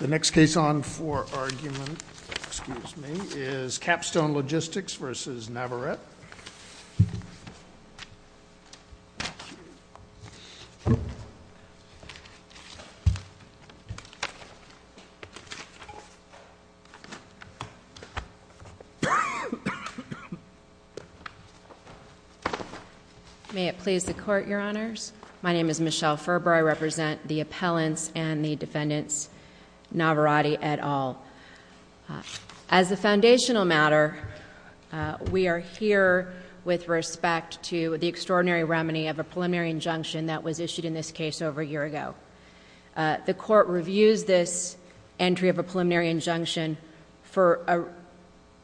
The next case on for argument, excuse me, is Capstone Logistics versus Navarette. May it please the Court, Your Honors. My name is Michelle Ferber. I represent the defense and the defendants, Navarrette et al. As a foundational matter, we are here with respect to the extraordinary remedy of a preliminary injunction that was issued in this case over a year ago. The Court reviews this entry of a preliminary injunction for an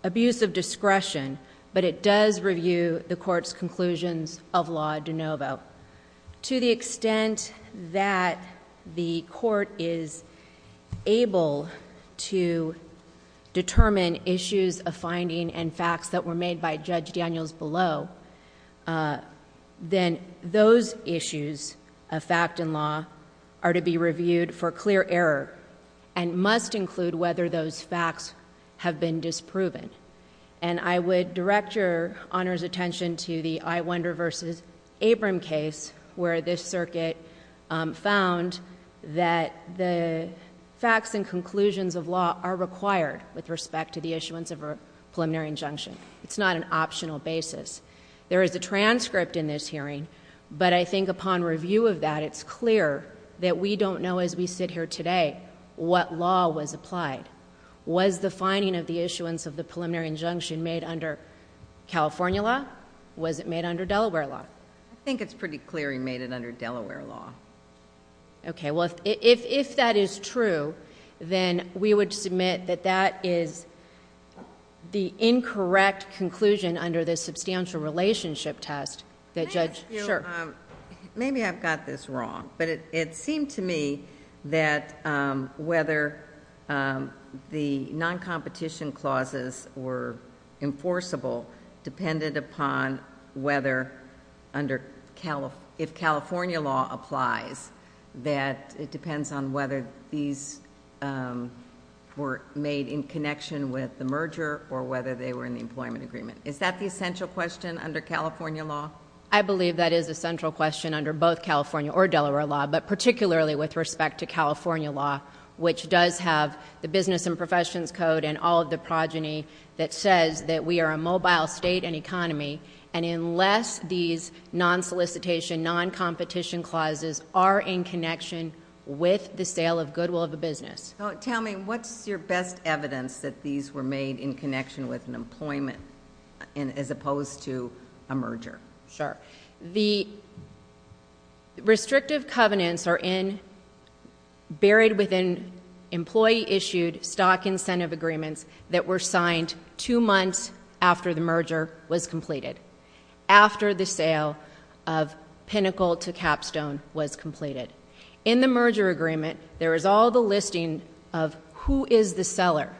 abuse of discretion, but it does review the Court's conclusions of law de novo. To the extent that the Court is able to determine issues of finding and facts that were made by Judge Daniels below, then those issues of fact and law are to be reviewed for clear error and must include whether those facts have been disproven. I would direct Your Honor's attention to the Iwonder v. Abram case where this circuit found that the facts and conclusions of law are required with respect to the issuance of a preliminary injunction. It's not an optional basis. There is a transcript in this hearing, but I think upon review of that, it's clear that we don't know as we sit here today what law was applied. Was the finding of the issuance of the preliminary injunction made under California law? Was it made under Delaware law? I think it's pretty clear he made it under Delaware law. Okay. Well, if that is true, then we would submit that that is the incorrect conclusion under the substantial relationship test that Judge... May I ask you... Sure.... that the circumstances were enforceable depended upon whether under... if California law applies, that it depends on whether these were made in connection with the merger or whether they were in the employment agreement. Is that the essential question under California law? I believe that is a central question under both California or Delaware law, but particularly with respect to California law, which does have the Business and Professions Code and all of the progeny that says that we are a mobile state and economy, and unless these non-solicitation, non-competition clauses are in connection with the sale of goodwill of a business... Tell me, what's your best evidence that these were made in connection with an employment as opposed to a merger? Sure. The restrictive covenants are in... buried within employee-issued stock incentive agreements that were signed two months after the merger was completed, after the sale of Pinnacle to Capstone was completed. In the merger agreement, there is all the listing of who is the seller.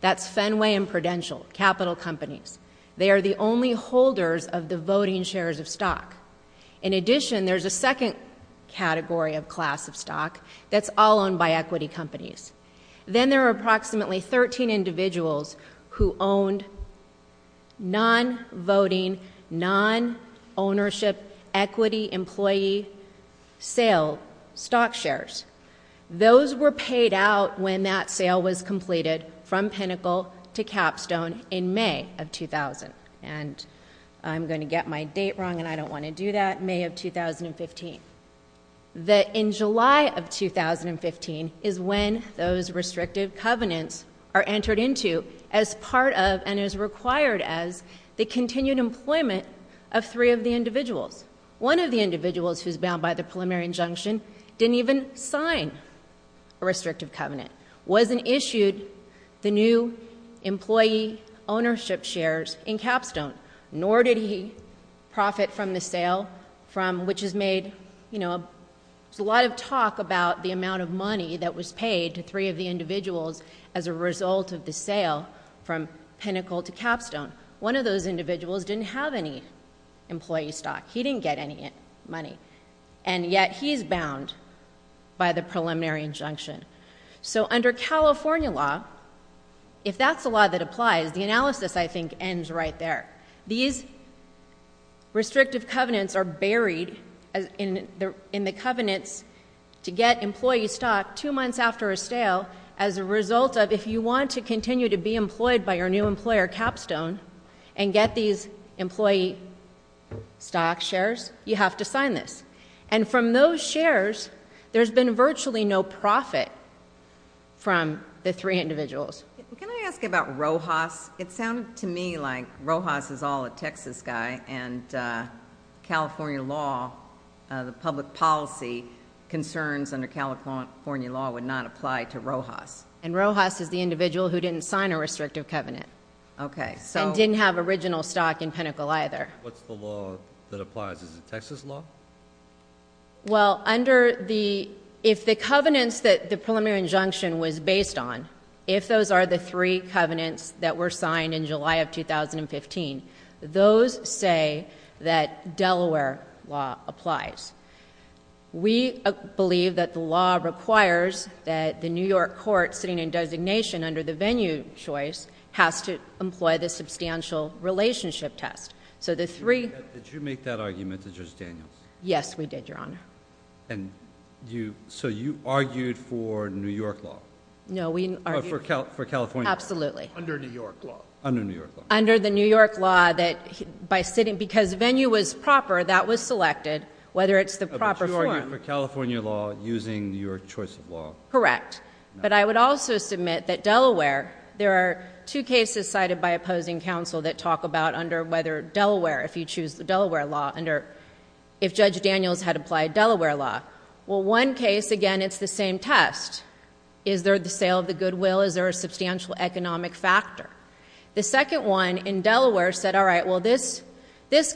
That's Fenway and Prudential, capital companies. They are the only holders of the voting shares of stock. In addition, there's a second category of class of stock that's all owned by equity companies. Then there are approximately 13 individuals who owned non-voting, non-ownership equity employee sale stock shares. Those were paid out when that sale was completed from Pinnacle to Capstone in May of 2000. I'm going to get my date wrong, and I don't want to do that. May of 2015. In July of 2015 is when those restrictive covenants are entered into as part of and as required as the continued employment of three of the individuals. One of the individuals who's bound by the preliminary injunction didn't even sign a restrictive covenant, wasn't issued the new employee ownership shares in Capstone, nor did he profit from the sale which has made... there's a lot of talk about the amount of money that was paid to three of the individuals as a result of the sale from Pinnacle to Capstone. One of those he's bound by the preliminary injunction. Under California law, if that's the law that applies, the analysis I think ends right there. These restrictive covenants are buried in the covenants to get employee stock two months after a sale as a result of if you want to continue to be employed by your new employer, Capstone, and get these employee stock shares, you have to sign this. From those shares, there's been virtually no profit from the three individuals. Can I ask about Rojas? It sounded to me like Rojas is all a Texas guy, and California law, the public policy concerns under California law would not apply to Rojas. Rojas is the individual who didn't sign a restrictive covenant and didn't have original stock in Pinnacle either. What's the law that applies? Is it Texas law? Well, under the... if the covenants that the preliminary injunction was based on, if those are the three covenants that were signed in July of 2015, those say that Delaware law applies. We believe that the law requires that the New York court sitting in designation under the venue choice has to employ the substantial relationship test. Did you make that argument to Judge Daniels? Yes, we did, Your Honor. You argued for New York law? No, we argued... For California law? Absolutely. Under New York law? Under New York law. Under the New York law that by sitting... because venue was proper, that was selected, whether it's the proper form. But you argued for California law using your choice of law? Correct. But I would also submit that Delaware... there are two cases cited by opposing counsel that talk about under whether Delaware... if you choose the Delaware law under if Judge Daniels had applied Delaware law. Well, one case, again, it's the same test. Is there the sale of the goodwill? Is there a substantial economic factor? The second one in Delaware said, all right, well, this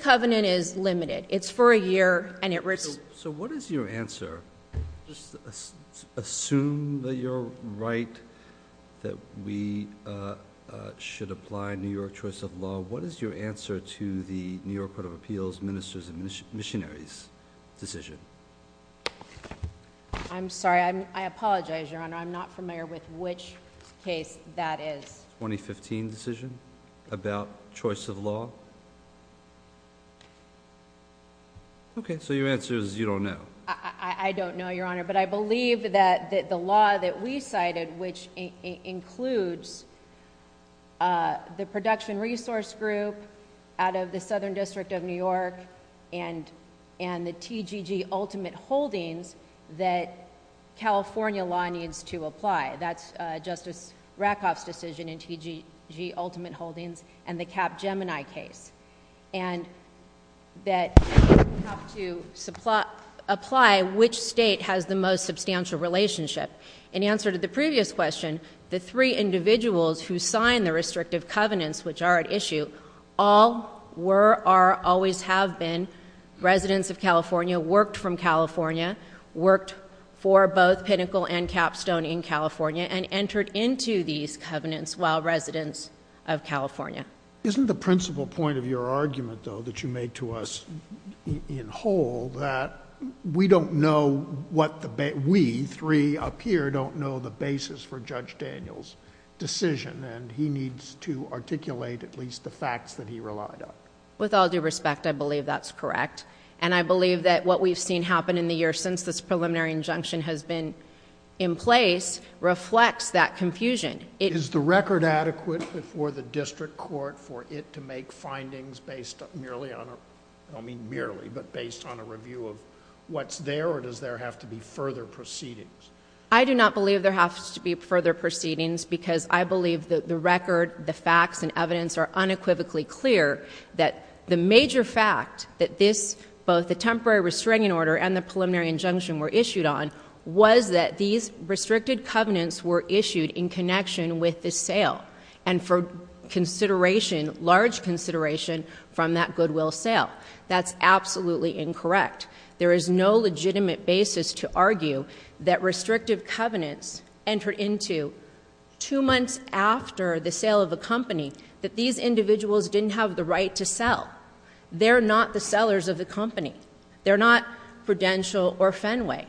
covenant is limited. It's for a year, and it... So what is your answer? Assume that you're right, that we should apply New York choice of law. What is your answer to the New York Court of Appeals, Ministers and Missionaries decision? I'm sorry. I apologize, Your Honor. I'm not familiar with which case that is. 2015 decision about choice of law? Okay. So your answer is you don't know? I don't know, Your Honor. But I believe that the law that we cited, which includes the production resource group out of the Southern District of New York and the TGG ultimate holdings, that California law needs to apply. That's Justice Rakoff's decision in TGG ultimate holdings and the Capgemini case. And that you have to apply which state has the most substantial relationship. In answer to the previous question, the three individuals who signed the restrictive covenants, which are at issue, all were or always have been residents of California, worked from California, worked for both Pinnacle and Capstone in California, and entered into these covenants while residents of California. Isn't the principal point of your argument, though, that you made to us in whole, that we don't know what the... We, three up here, don't know the basis for Judge Daniel's decision and he needs to articulate at least the facts that he relied on. With all due respect, I believe that's correct. And I believe that what we've seen happen in the year since this preliminary injunction has been in place reflects that confusion. Is the record adequate before the district court for it to make findings based merely on a... I don't mean merely, but based on a review of what's there or does there have to be further proceedings? I do not believe there has to be further proceedings because I believe that the record, the facts and evidence are unequivocally clear that the major fact that this, both the temporary restraining order and the preliminary injunction were issued on, was that these restricted covenants were issued in connection with the sale and for consideration, large consideration from that goodwill sale. That's absolutely incorrect. There is no legitimate basis to argue that restrictive covenants entered into two months after the sale of a company that these individuals didn't have the right to sell. They're not the sellers of the company. They're not Prudential or Fenway.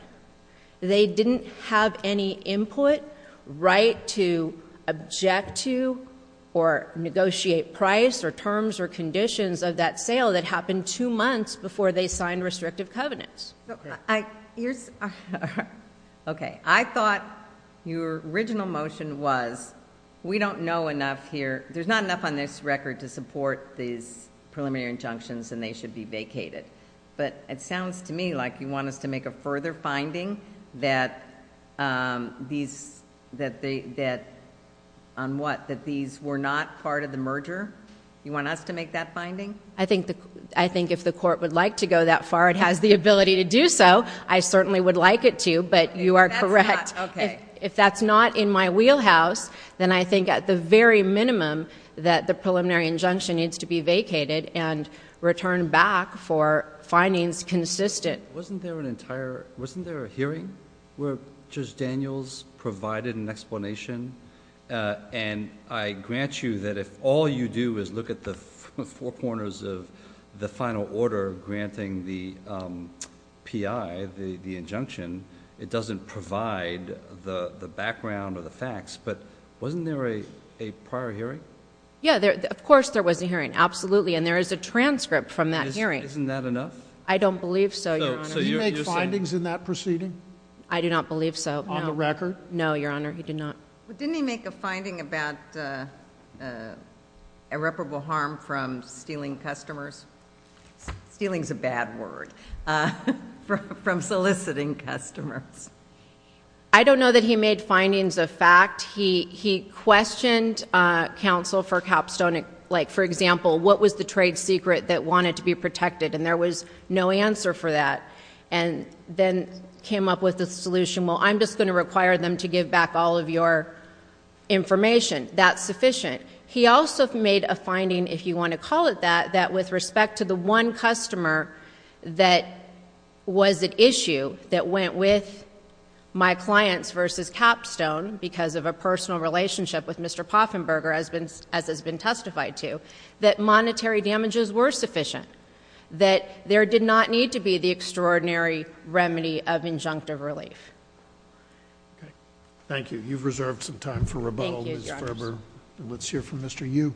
They didn't have any input, right to object to or negotiate price or terms or conditions of that sale that happened two months before they signed restrictive covenants. Okay. I thought your original motion was, we don't know enough here. There's not enough on this record to support these preliminary injunctions and they should be vacated. It sounds to me like you want us to make a further finding that these were not part of the merger. You want us to make that finding? I think if the court would like to go that far, it has the ability to do so. I certainly would like it to, but you are correct. If that's not in my wheelhouse, then I think at the very minimum that the preliminary injunction needs to be vacated and returned back for findings consistent. Wasn't there a hearing where Judge Daniels provided an explanation? I grant you that if all you do is look at the four corners of the final order granting the PI, the injunction, it doesn't provide the background or the facts, but wasn't there a prior hearing? Yeah. Of course there was a hearing, absolutely, and there is a transcript from that hearing. Isn't that enough? I don't believe so, Your Honor. So you make findings in that proceeding? I do not believe so. On the record? No, Your Honor. He did not. Didn't he make a finding about irreparable harm from stealing customers? Stealing is a bad word, from soliciting customers. I don't know that he made findings of fact. He questioned counsel for Capstone, like, for example, what was the trade secret that wanted to be protected, and there was no answer for that, and then came up with a solution, well, I'm just going to require them to give back all of your information. That's sufficient. He also made a finding, if you want to call it that, that with respect to the one customer that was at issue that went with my clients versus Capstone, because of a personal relationship with Mr. Poffenberger, as has been testified to, that monetary damages were sufficient, that there did not need to be the extraordinary remedy of injunctive relief. Thank you. You've reserved some time for rebuttal, Ms. Farber. Thank you, Your Honor. Let's hear from Mr. Yu.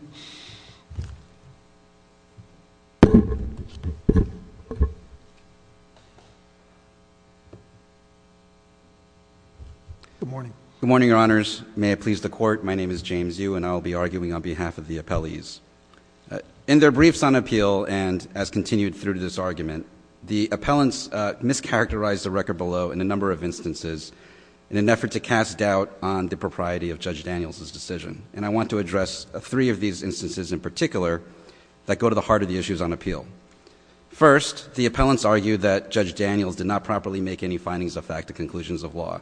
Good morning. Good morning, Your Honors. May it please the Court, my name is James Yu and I will be arguing on behalf of the appellees. In their briefs on appeal, and as continued through this argument, the appellants mischaracterized the record below in a number of instances in an effort to cast doubt on the propriety of Judge Daniels' decision. And I want to address three of these instances in particular that go to the heart of the issues on appeal. First, the appellants argued that Judge Daniels did not properly make any findings of fact to conclusions of law.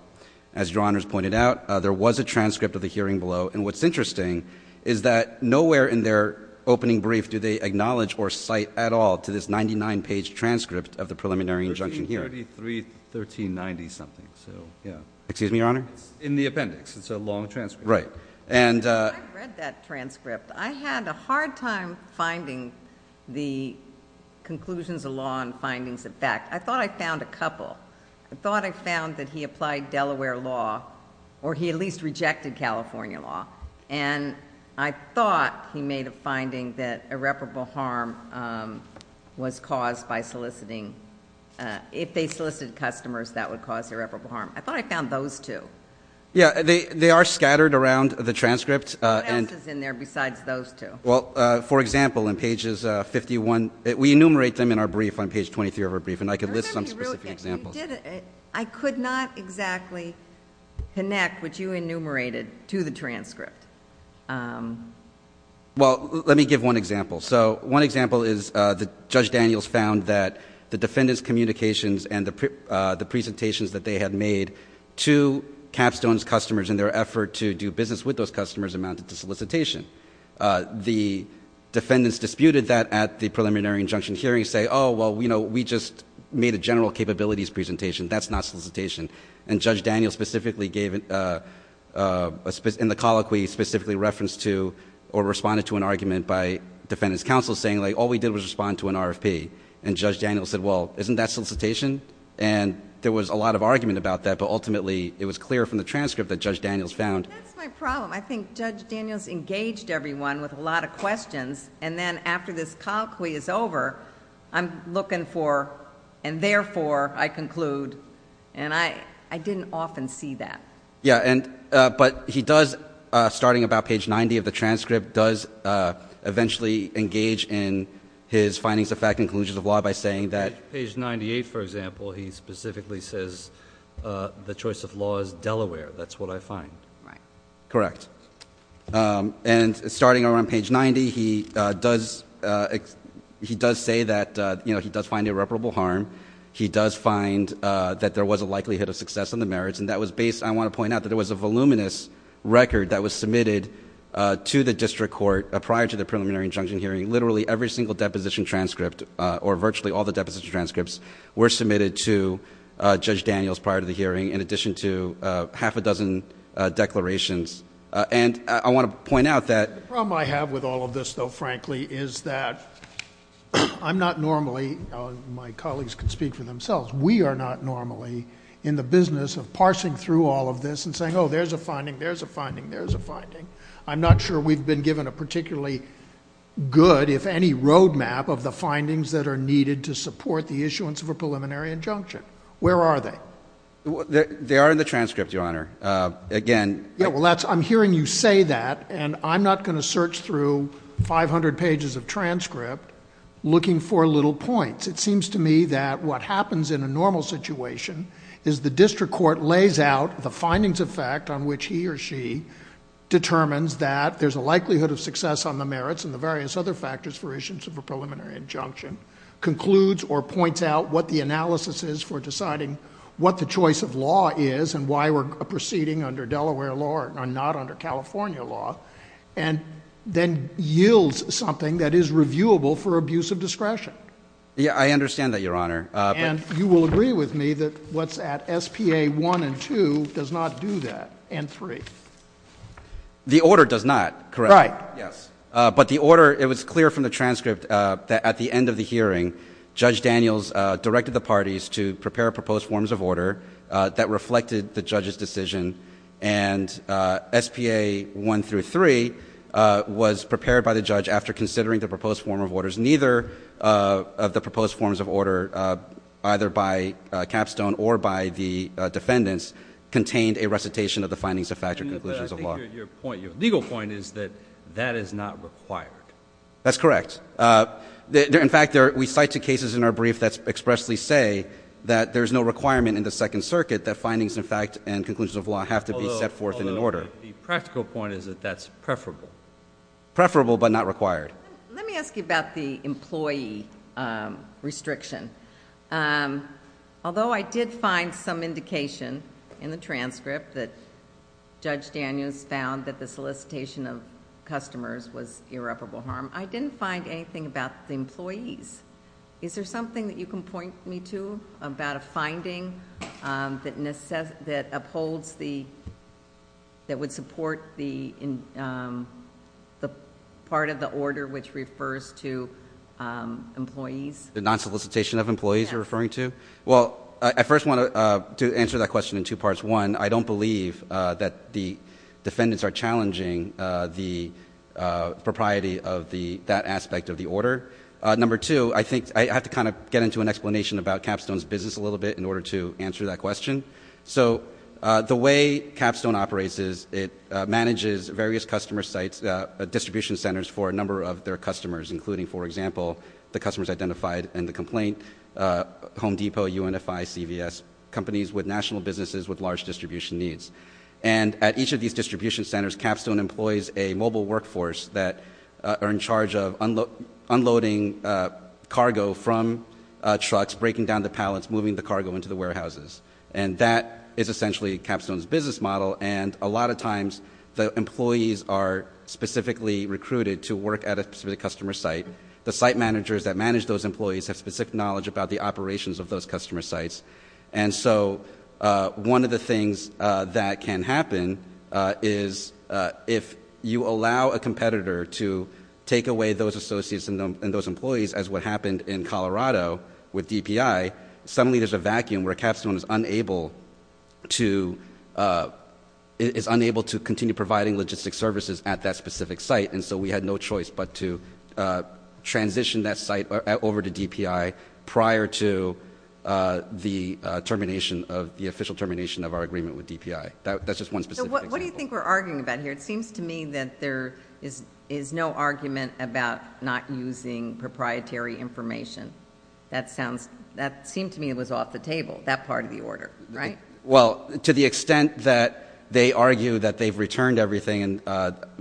As Your Honors pointed out, there was a transcript of the hearing below, and what's interesting is that nowhere in their opening brief do they acknowledge or cite at all to this 99-page transcript of the preliminary injunction hearing. 1333, 1390-something, so, yeah. Excuse me, Your Honor? It's in the appendix. It's a long transcript. Right. I read that transcript. I had a hard time finding the conclusions of law and findings of fact. I thought I found a couple. I thought I found that he applied Delaware law, or he at least rejected California law, and I thought he made a finding that irreparable harm was caused by soliciting, if they solicited customers, that would cause irreparable harm. I thought I found those two. Yeah, they are scattered around the transcript. What else is in there besides those two? Well, for example, in pages 51, we enumerate them in our brief on page 23 of our brief, and I could list some specific examples. I could not exactly connect what you enumerated to the transcript. Well, let me give one example. So, one example is that Judge Daniels found that the defendant's two capstones customers in their effort to do business with those customers amounted to solicitation. The defendants disputed that at the preliminary injunction hearing, saying, oh, well, you know, we just made a general capabilities presentation. That's not solicitation. And Judge Daniels specifically gave, in the colloquy, specifically referenced to, or responded to an argument by defendant's counsel, saying, like, all we did was respond to an RFP. And Judge Daniels said, well, isn't that solicitation? And there was a lot of argument about that, but ultimately, it was clear from the transcript that Judge Daniels found. That's my problem. I think Judge Daniels engaged everyone with a lot of questions, and then after this colloquy is over, I'm looking for, and therefore, I conclude, and I didn't often see that. Yeah, but he does, starting about page 90 of the transcript, does eventually engage in his findings of fact and conclusions of law by saying that Page 98, for example, he specifically says the choice of law is Delaware. That's what I find. Right. Correct. And starting around page 90, he does say that, you know, he does find irreparable harm. He does find that there was a likelihood of success in the merits, and that was based, I want to point out, that it was a voluminous record that was submitted to the district court prior to the preliminary injunction hearing. Literally every single deposition transcript, or virtually all the deposition transcripts, were submitted to Judge Daniels prior to the hearing, in addition to half a dozen declarations. And I want to point out that The problem I have with all of this, though, frankly, is that I'm not normally, my colleagues can speak for themselves, we are not normally in the business of parsing through all of this and saying, oh, there's a finding, there's a finding, there's a finding. I'm not sure we've been given a particularly good, if any, road map of the findings that are needed to support the issuance of a preliminary injunction. Where are they? They are in the transcript, Your Honor. Again Yeah, well, I'm hearing you say that, and I'm not going to search through 500 pages of transcript looking for little points. It seems to me that what happens in a normal situation is the district court lays out the findings of fact on which he or she determines that there's a likelihood of success on the merits and the various other factors for issuance of a preliminary injunction, concludes or points out what the analysis is for deciding what the choice of law is and why we're proceeding under Delaware law and not under California law, and then yields something that is reviewable for abuse of discretion. Yeah, I understand that, Your Honor. And you will agree with me that what's at SPA 1 and 2 does not do that, and 3. The order does not, correct? Right. Yes. But the order, it was clear from the transcript that at the end of the hearing, Judge Daniels directed the parties to prepare proposed forms of order that reflected the judge's decision, and SPA 1 through 3 was prepared by the judge after considering the proposed form of orders. Neither of the proposed forms of order, either by Capstone or by the judge, did not reflect the conclusions of law. But I think your point, your legal point is that that is not required. That's correct. In fact, we cite two cases in our brief that expressly say that there's no requirement in the Second Circuit that findings of fact and conclusions of law have to be set forth in an order. Although, the practical point is that that's preferable. Preferable but not required. Let me ask you about the employee restriction. Although I did find some indication in the case that Judge Daniels found that the solicitation of customers was irreparable harm, I didn't find anything about the employees. Is there something that you can point me to about a finding that upholds the, that would support the part of the order which refers to employees? The non-solicitation of employees you're referring to? Yeah. Well, I first want to answer that question in two parts. One, I don't believe that the defendants are challenging the propriety of that aspect of the order. Number two, I think I have to kind of get into an explanation about Capstone's business a little bit in order to answer that question. So the way Capstone operates is it manages various customer sites, distribution centers for a number of their customers, including, for example, the customers identified in the UNFI CVS, companies with national businesses with large distribution needs. And at each of these distribution centers, Capstone employs a mobile workforce that are in charge of unloading cargo from trucks, breaking down the pallets, moving the cargo into the warehouses. And that is essentially Capstone's business model. And a lot of times the employees are specifically recruited to work at a specific customer site. The site managers that manage those employees have specific knowledge about the operations of those customer sites. And so one of the things that can happen is if you allow a competitor to take away those associates and those employees as what happened in Colorado with DPI, suddenly there's a vacuum where Capstone is unable to continue providing logistic services at that specific site. And so we had no choice but to transition that site over to DPI prior to the termination, the official termination of our agreement with DPI. That's just one specific example. So what do you think we're arguing about here? It seems to me that there is no argument about not using proprietary information. That sounds, that seemed to me it was off the table, that part of the order, right? Well, to the extent that they argue that they've returned everything,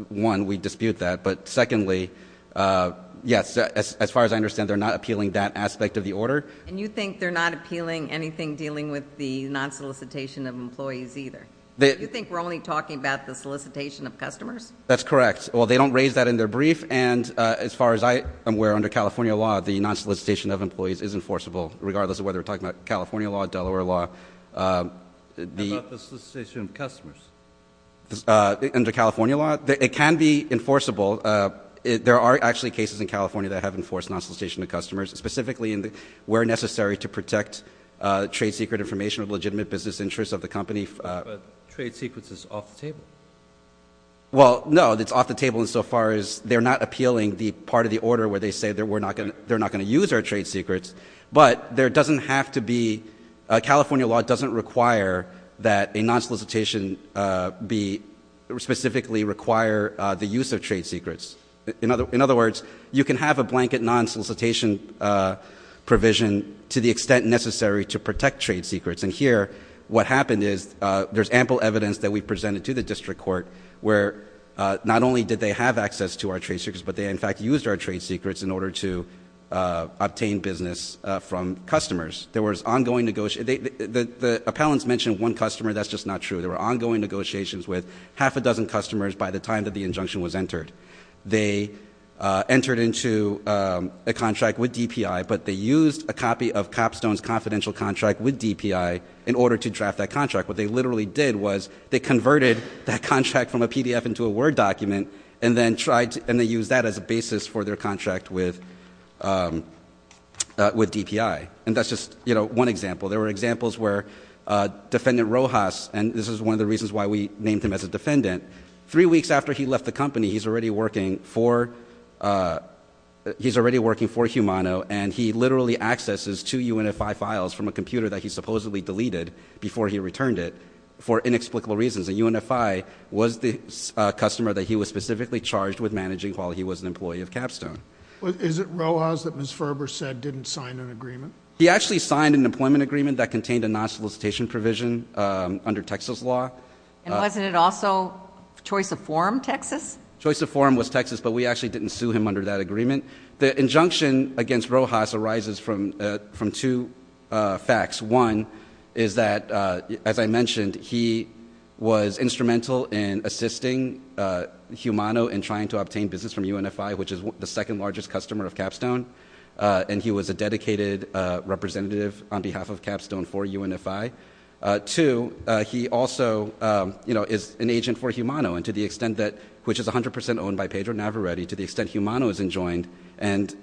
one, we dispute that. But secondly, yes, as far as I understand, they're not appealing that aspect of the order. And you think they're not appealing anything dealing with the non-solicitation of employees either? You think we're only talking about the solicitation of customers? That's correct. Well, they don't raise that in their brief. And as far as I am aware, under California law, the non-solicitation of employees is enforceable, regardless of whether we're talking about California law, Delaware law. How about the solicitation of customers? Under California law, it can be enforceable. There are actually cases in California that have enforced non-solicitation of customers, specifically where necessary to protect trade secret information of legitimate business interests of the company. Trade secrets is off the table. Well, no, it's off the table insofar as they're not appealing the part of the order where they say that we're not going to, they're not going to use our trade secrets. But there are cases where they specifically require the use of trade secrets. In other words, you can have a blanket non-solicitation provision to the extent necessary to protect trade secrets. And here, what happened is, there's ample evidence that we presented to the district court where not only did they have access to our trade secrets, but they, in fact, used our trade secrets in order to obtain business from customers. There was ongoing negotiation. The appellants mentioned one customer. That's just not true. There were ongoing negotiations with half a dozen customers by the time that the injunction was entered. They entered into a contract with DPI, but they used a copy of Capstone's confidential contract with DPI in order to draft that contract. What they literally did was they converted that contract from a PDF into a Word document and then tried to, and they used that as a basis for their contract with DPI. And that's just, you know, one example. There were examples where Defendant Rojas, and this is one of the reasons why we named him as a defendant, three weeks after he left the company, he's already working for, he's already working for Humano, and he literally accesses two UNFI files from a computer that he supposedly deleted before he returned it for inexplicable reasons. And UNFI was the customer that he was specifically charged with managing while he was an employee of Capstone. Is it Rojas that Ms. Ferber said didn't sign an agreement? He actually signed an employment agreement that contained a non-solicitation provision under Texas law. And wasn't it also Choice of Forum, Texas? Choice of Forum was Texas, but we actually didn't sue him under that agreement. The injunction against Rojas arises from two facts. One is that, as I mentioned, he was instrumental in assisting Humano in trying to obtain business from UNFI, which is the second largest customer of Capstone, and he was a dedicated representative on behalf of Capstone for UNFI. Two, he also is an agent for Humano, and to the extent that, which is 100% owned by Pedro Navarrete, to the extent Humano is enjoined, and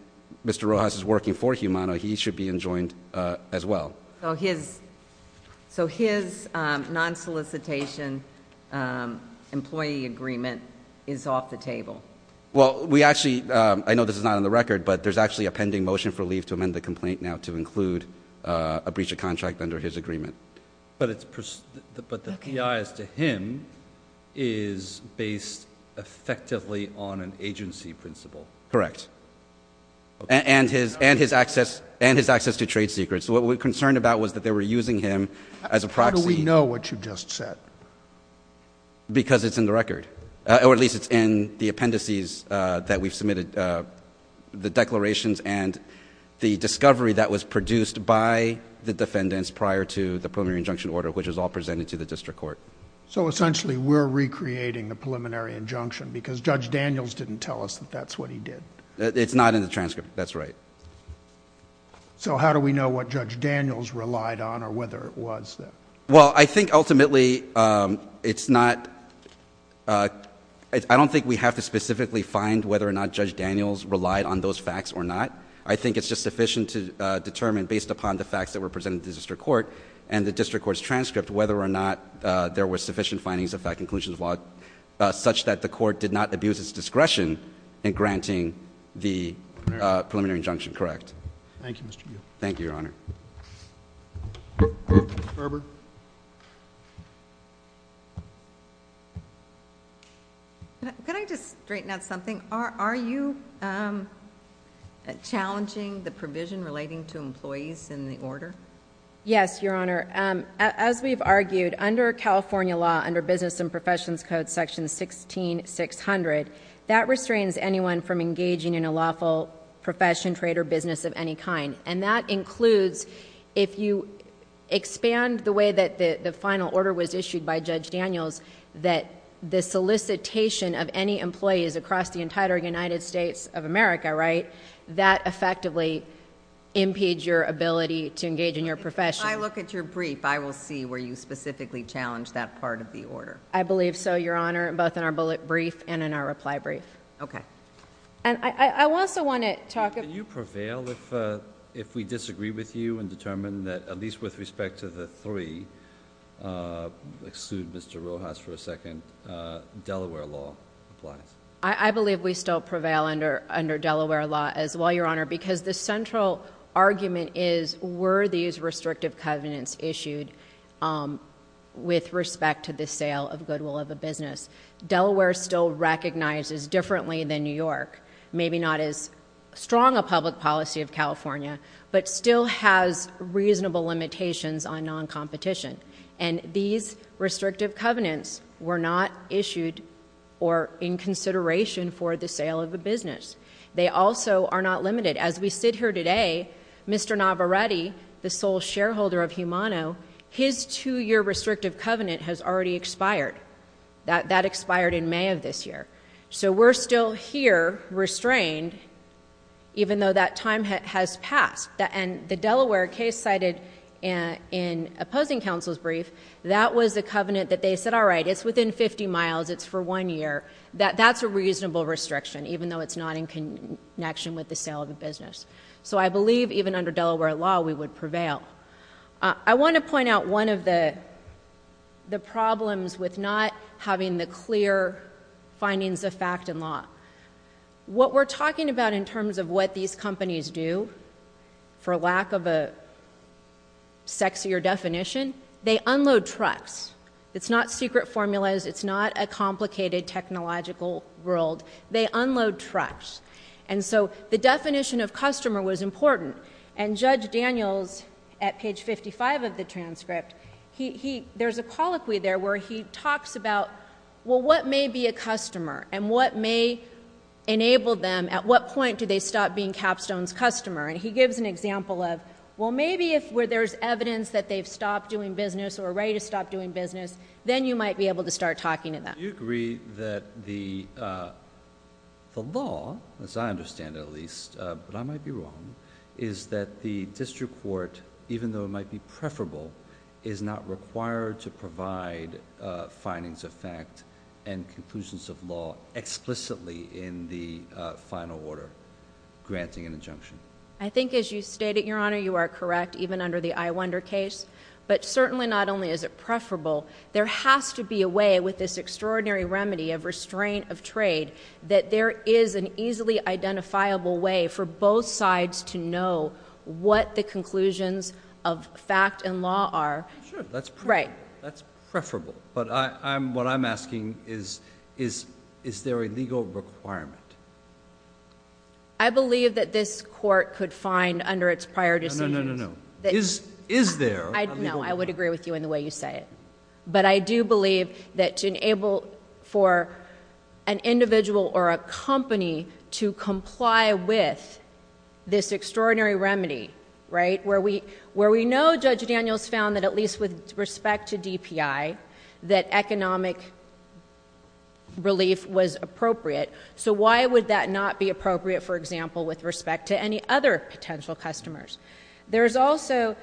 Mr. Rojas is working for Humano, he should be enjoined as well. So his non-solicitation employee agreement is off the table? Well, we actually, I know this is not on the record, but there's actually a pending motion for leave to amend the complaint now to include a breach of contract under his agreement. But the PIs to him is based effectively on an agency principle? Correct. And his access to trade secrets. What we're concerned about is that they were using him as a proxy. How do we know what you just said? Because it's in the record, or at least it's in the appendices that we've submitted, the declarations and the discovery that was produced by the defendants prior to the preliminary injunction order, which was all presented to the district court. So essentially, we're recreating the preliminary injunction because Judge Daniels didn't tell us that that's what he did. It's not in the transcript, that's right. So how do we know what Judge Daniels relied on or whether it was that? Well, I think ultimately, it's not, I don't think we have to specifically find whether or not Judge Daniels relied on those facts or not. I think it's just sufficient to determine based upon the facts that were presented to the district court and the district court's transcript whether or not there was sufficient findings of fact and conclusions of law such that the court did not abuse its discretion in granting the preliminary injunction, correct? Thank you, Mr. Yu. Thank you, Your Honor. Mr. Berber. Can I just straighten out something? Are you challenging the provision relating to employees in the order? Yes, Your Honor. As we've argued, under California law, under Business and Professions Code section 16-600, that restrains anyone from engaging in a lawful profession, trade, or business of any kind. And that includes, if you expand the way that the final order was issued by Judge Daniels, that the solicitation of any employees across the entire United States of America, right, that effectively impedes your ability to engage in your profession. If I look at your brief, I will see where you specifically challenge that part of the order. I believe so, Your Honor, both in our bullet brief and in our reply brief. Okay. And I also want to talk about... Can you prevail if we disagree with you and determine that, at least with respect to the three, exclude Mr. Rojas for a second, Delaware law applies? I believe we still prevail under Delaware law as well, Your Honor, because the central argument is, were these restrictive covenants issued with respect to the sale of goodwill of a business? Delaware still recognizes differently than New York, maybe not as strong a public policy of California, but still has reasonable limitations on non-competition. And these restrictive covenants were not issued or in consideration for the sale of a business. They also are not limited. As we sit here today, Mr. Navarrete, the sole shareholder of Humano, his two-year restrictive covenant has already expired. That expired in May of this year. So we're still here, restrained, even though that time has passed. And the Delaware case cited in opposing counsel's brief, that was a covenant that they said, all right, it's within 50 miles, it's for one year. That's a reasonable restriction, even though it's not in connection with the sale of a business. So I believe, even under Delaware law, we would prevail. I want to point out one of the problems with not having the clear findings of fact in law. What we're talking about in terms of what these companies do, for lack of a sexier definition, they unload trucks. It's not secret formulas. It's not a complicated technological world. They unload trucks. And so the definition of customer was important. And Judge Daniels, at page 55 of the transcript, there's a colloquy there where he talks about, well, what may be a customer? And what may enable them? At what point do they stop being Capstone's customer? And he gives an example of, well, maybe if where there's evidence that they've stopped doing business or are ready to stop doing business, then you might be able to start talking to them. Do you agree that the law, as I understand it at least, but I might be wrong, is that the district court, even though it might be preferable, is not required to provide findings of fact and conclusions of law explicitly in the final order, granting an injunction? I think as you stated, Your Honor, you are correct, even under the I wonder case. But certainly not only is it preferable, there has to be a way with this extraordinary remedy of restraint of trade that there is an easily identifiable way for both sides to know what the conclusions of fact and law are. Sure. That's preferable. Right. But what I'm asking is, is there a legal requirement? I believe that this court could find under its prior decisions... No, no, no, no, no. Is there a legal requirement? No. I would agree with you in the way you say it. But I do believe that to enable for an individual or a company to comply with this extraordinary remedy, right, where we know Judge Daniels found that at least with respect to DPI, that economic relief was appropriate, so why would that not be appropriate, for example, with respect to any other potential customers? There is also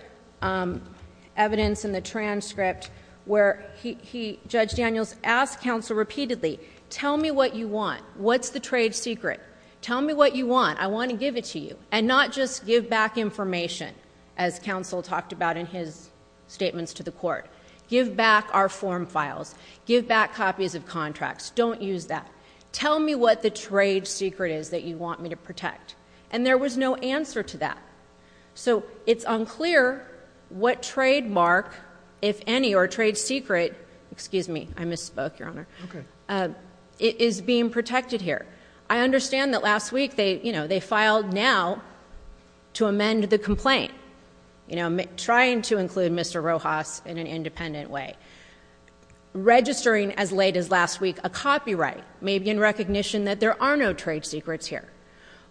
evidence in the transcript where Judge Daniels asked counsel repeatedly, tell me what you want. What's the trade secret? Tell me what you want. I want to give it to you. And not just give back information, as counsel talked about in his statements to the court. Give back our form files. Give back copies of contracts. Don't use that. Tell me what the trade secret is that you want me to protect. And there was no answer to that. So it's unclear what trademark, if any, or trade secret, excuse me, I misspoke, Your Honor, is being protected here. I understand that last week they filed now to amend the complaint. Trying to include Mr. Rojas in an independent way. Registering as late as last week a copyright, maybe in recognition that there are no trade secrets here.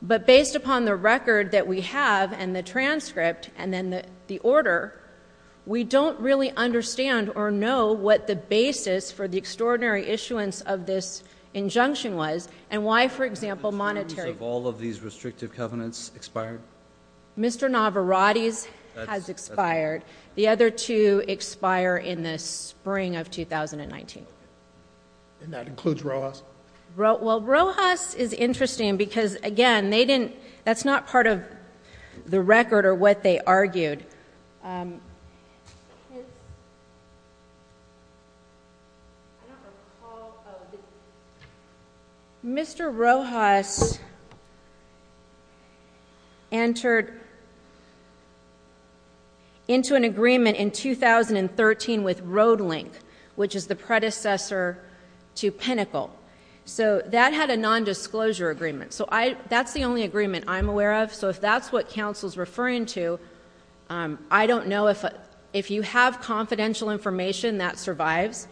But based upon the record that we have and the transcript and then the order, we don't really understand or know what the basis for the extraordinary issuance of this injunction was. And why, for example, monetary- All of these restrictive covenants expired? Mr. Navarate's has expired. The other two expire in the spring of 2019. And that includes Rojas? Well, Rojas is interesting because, again, that's not part of the record or what they argued. Mr. Rojas entered into an agreement in 2013 with Roadlink, which is the predecessor to Pinnacle. So that had a non-disclosure agreement. So that's the only agreement I'm aware of. So if that's what counsel's referring to, I don't know if you have confidential information that survives.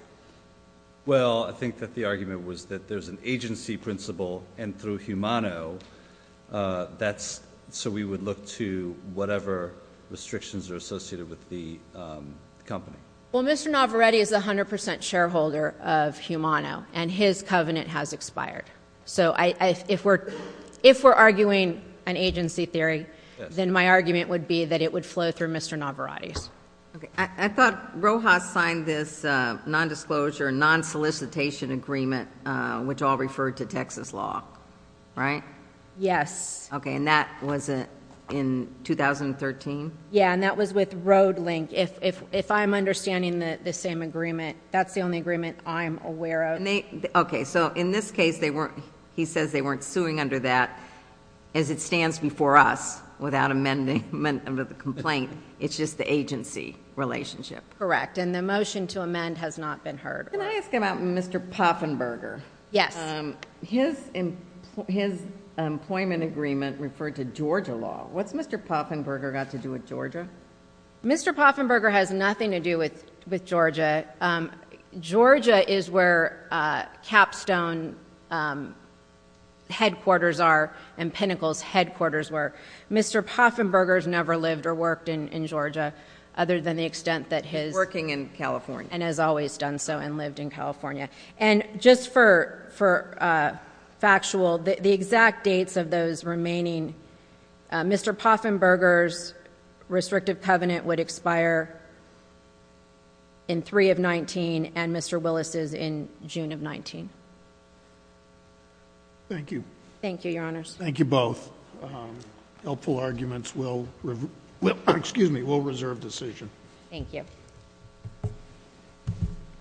Well, I think that the argument was that there's an agency principle and through Humano, that's so we would look to whatever restrictions are associated with the company. Well, Mr. Navarate is 100% shareholder of Humano, and his covenant has expired. So if we're arguing an agency theory, then my argument would be that it would flow through Mr. Navarate's. Okay, I thought Rojas signed this non-disclosure, non-solicitation agreement, which all referred to Texas law, right? Yes. Okay, and that was in 2013? Yeah, and that was with Roadlink. If I'm understanding the same agreement, that's the only agreement I'm aware of. Okay, so in this case, he says they weren't suing under that. As it stands before us, without amendment of the complaint, it's just the agency relationship. Correct, and the motion to amend has not been heard. Can I ask about Mr. Poffenberger? Yes. His employment agreement referred to Georgia law. What's Mr. Poffenberger got to do with Georgia? Mr. Poffenberger has nothing to do with Georgia. Georgia is where Capstone headquarters are and Pinnacle's headquarters were. Mr. Poffenberger's never lived or worked in Georgia other than the extent that his- Working in California. And has always done so and lived in California. And just for factual, the exact dates of those remaining, Mr. Poffenberger's restrictive covenant would expire in 3 of 19 and Mr. Willis's in June of 19. Thank you. Thank you, your honors. Thank you both. Helpful arguments will, excuse me, will reserve decision. Thank you.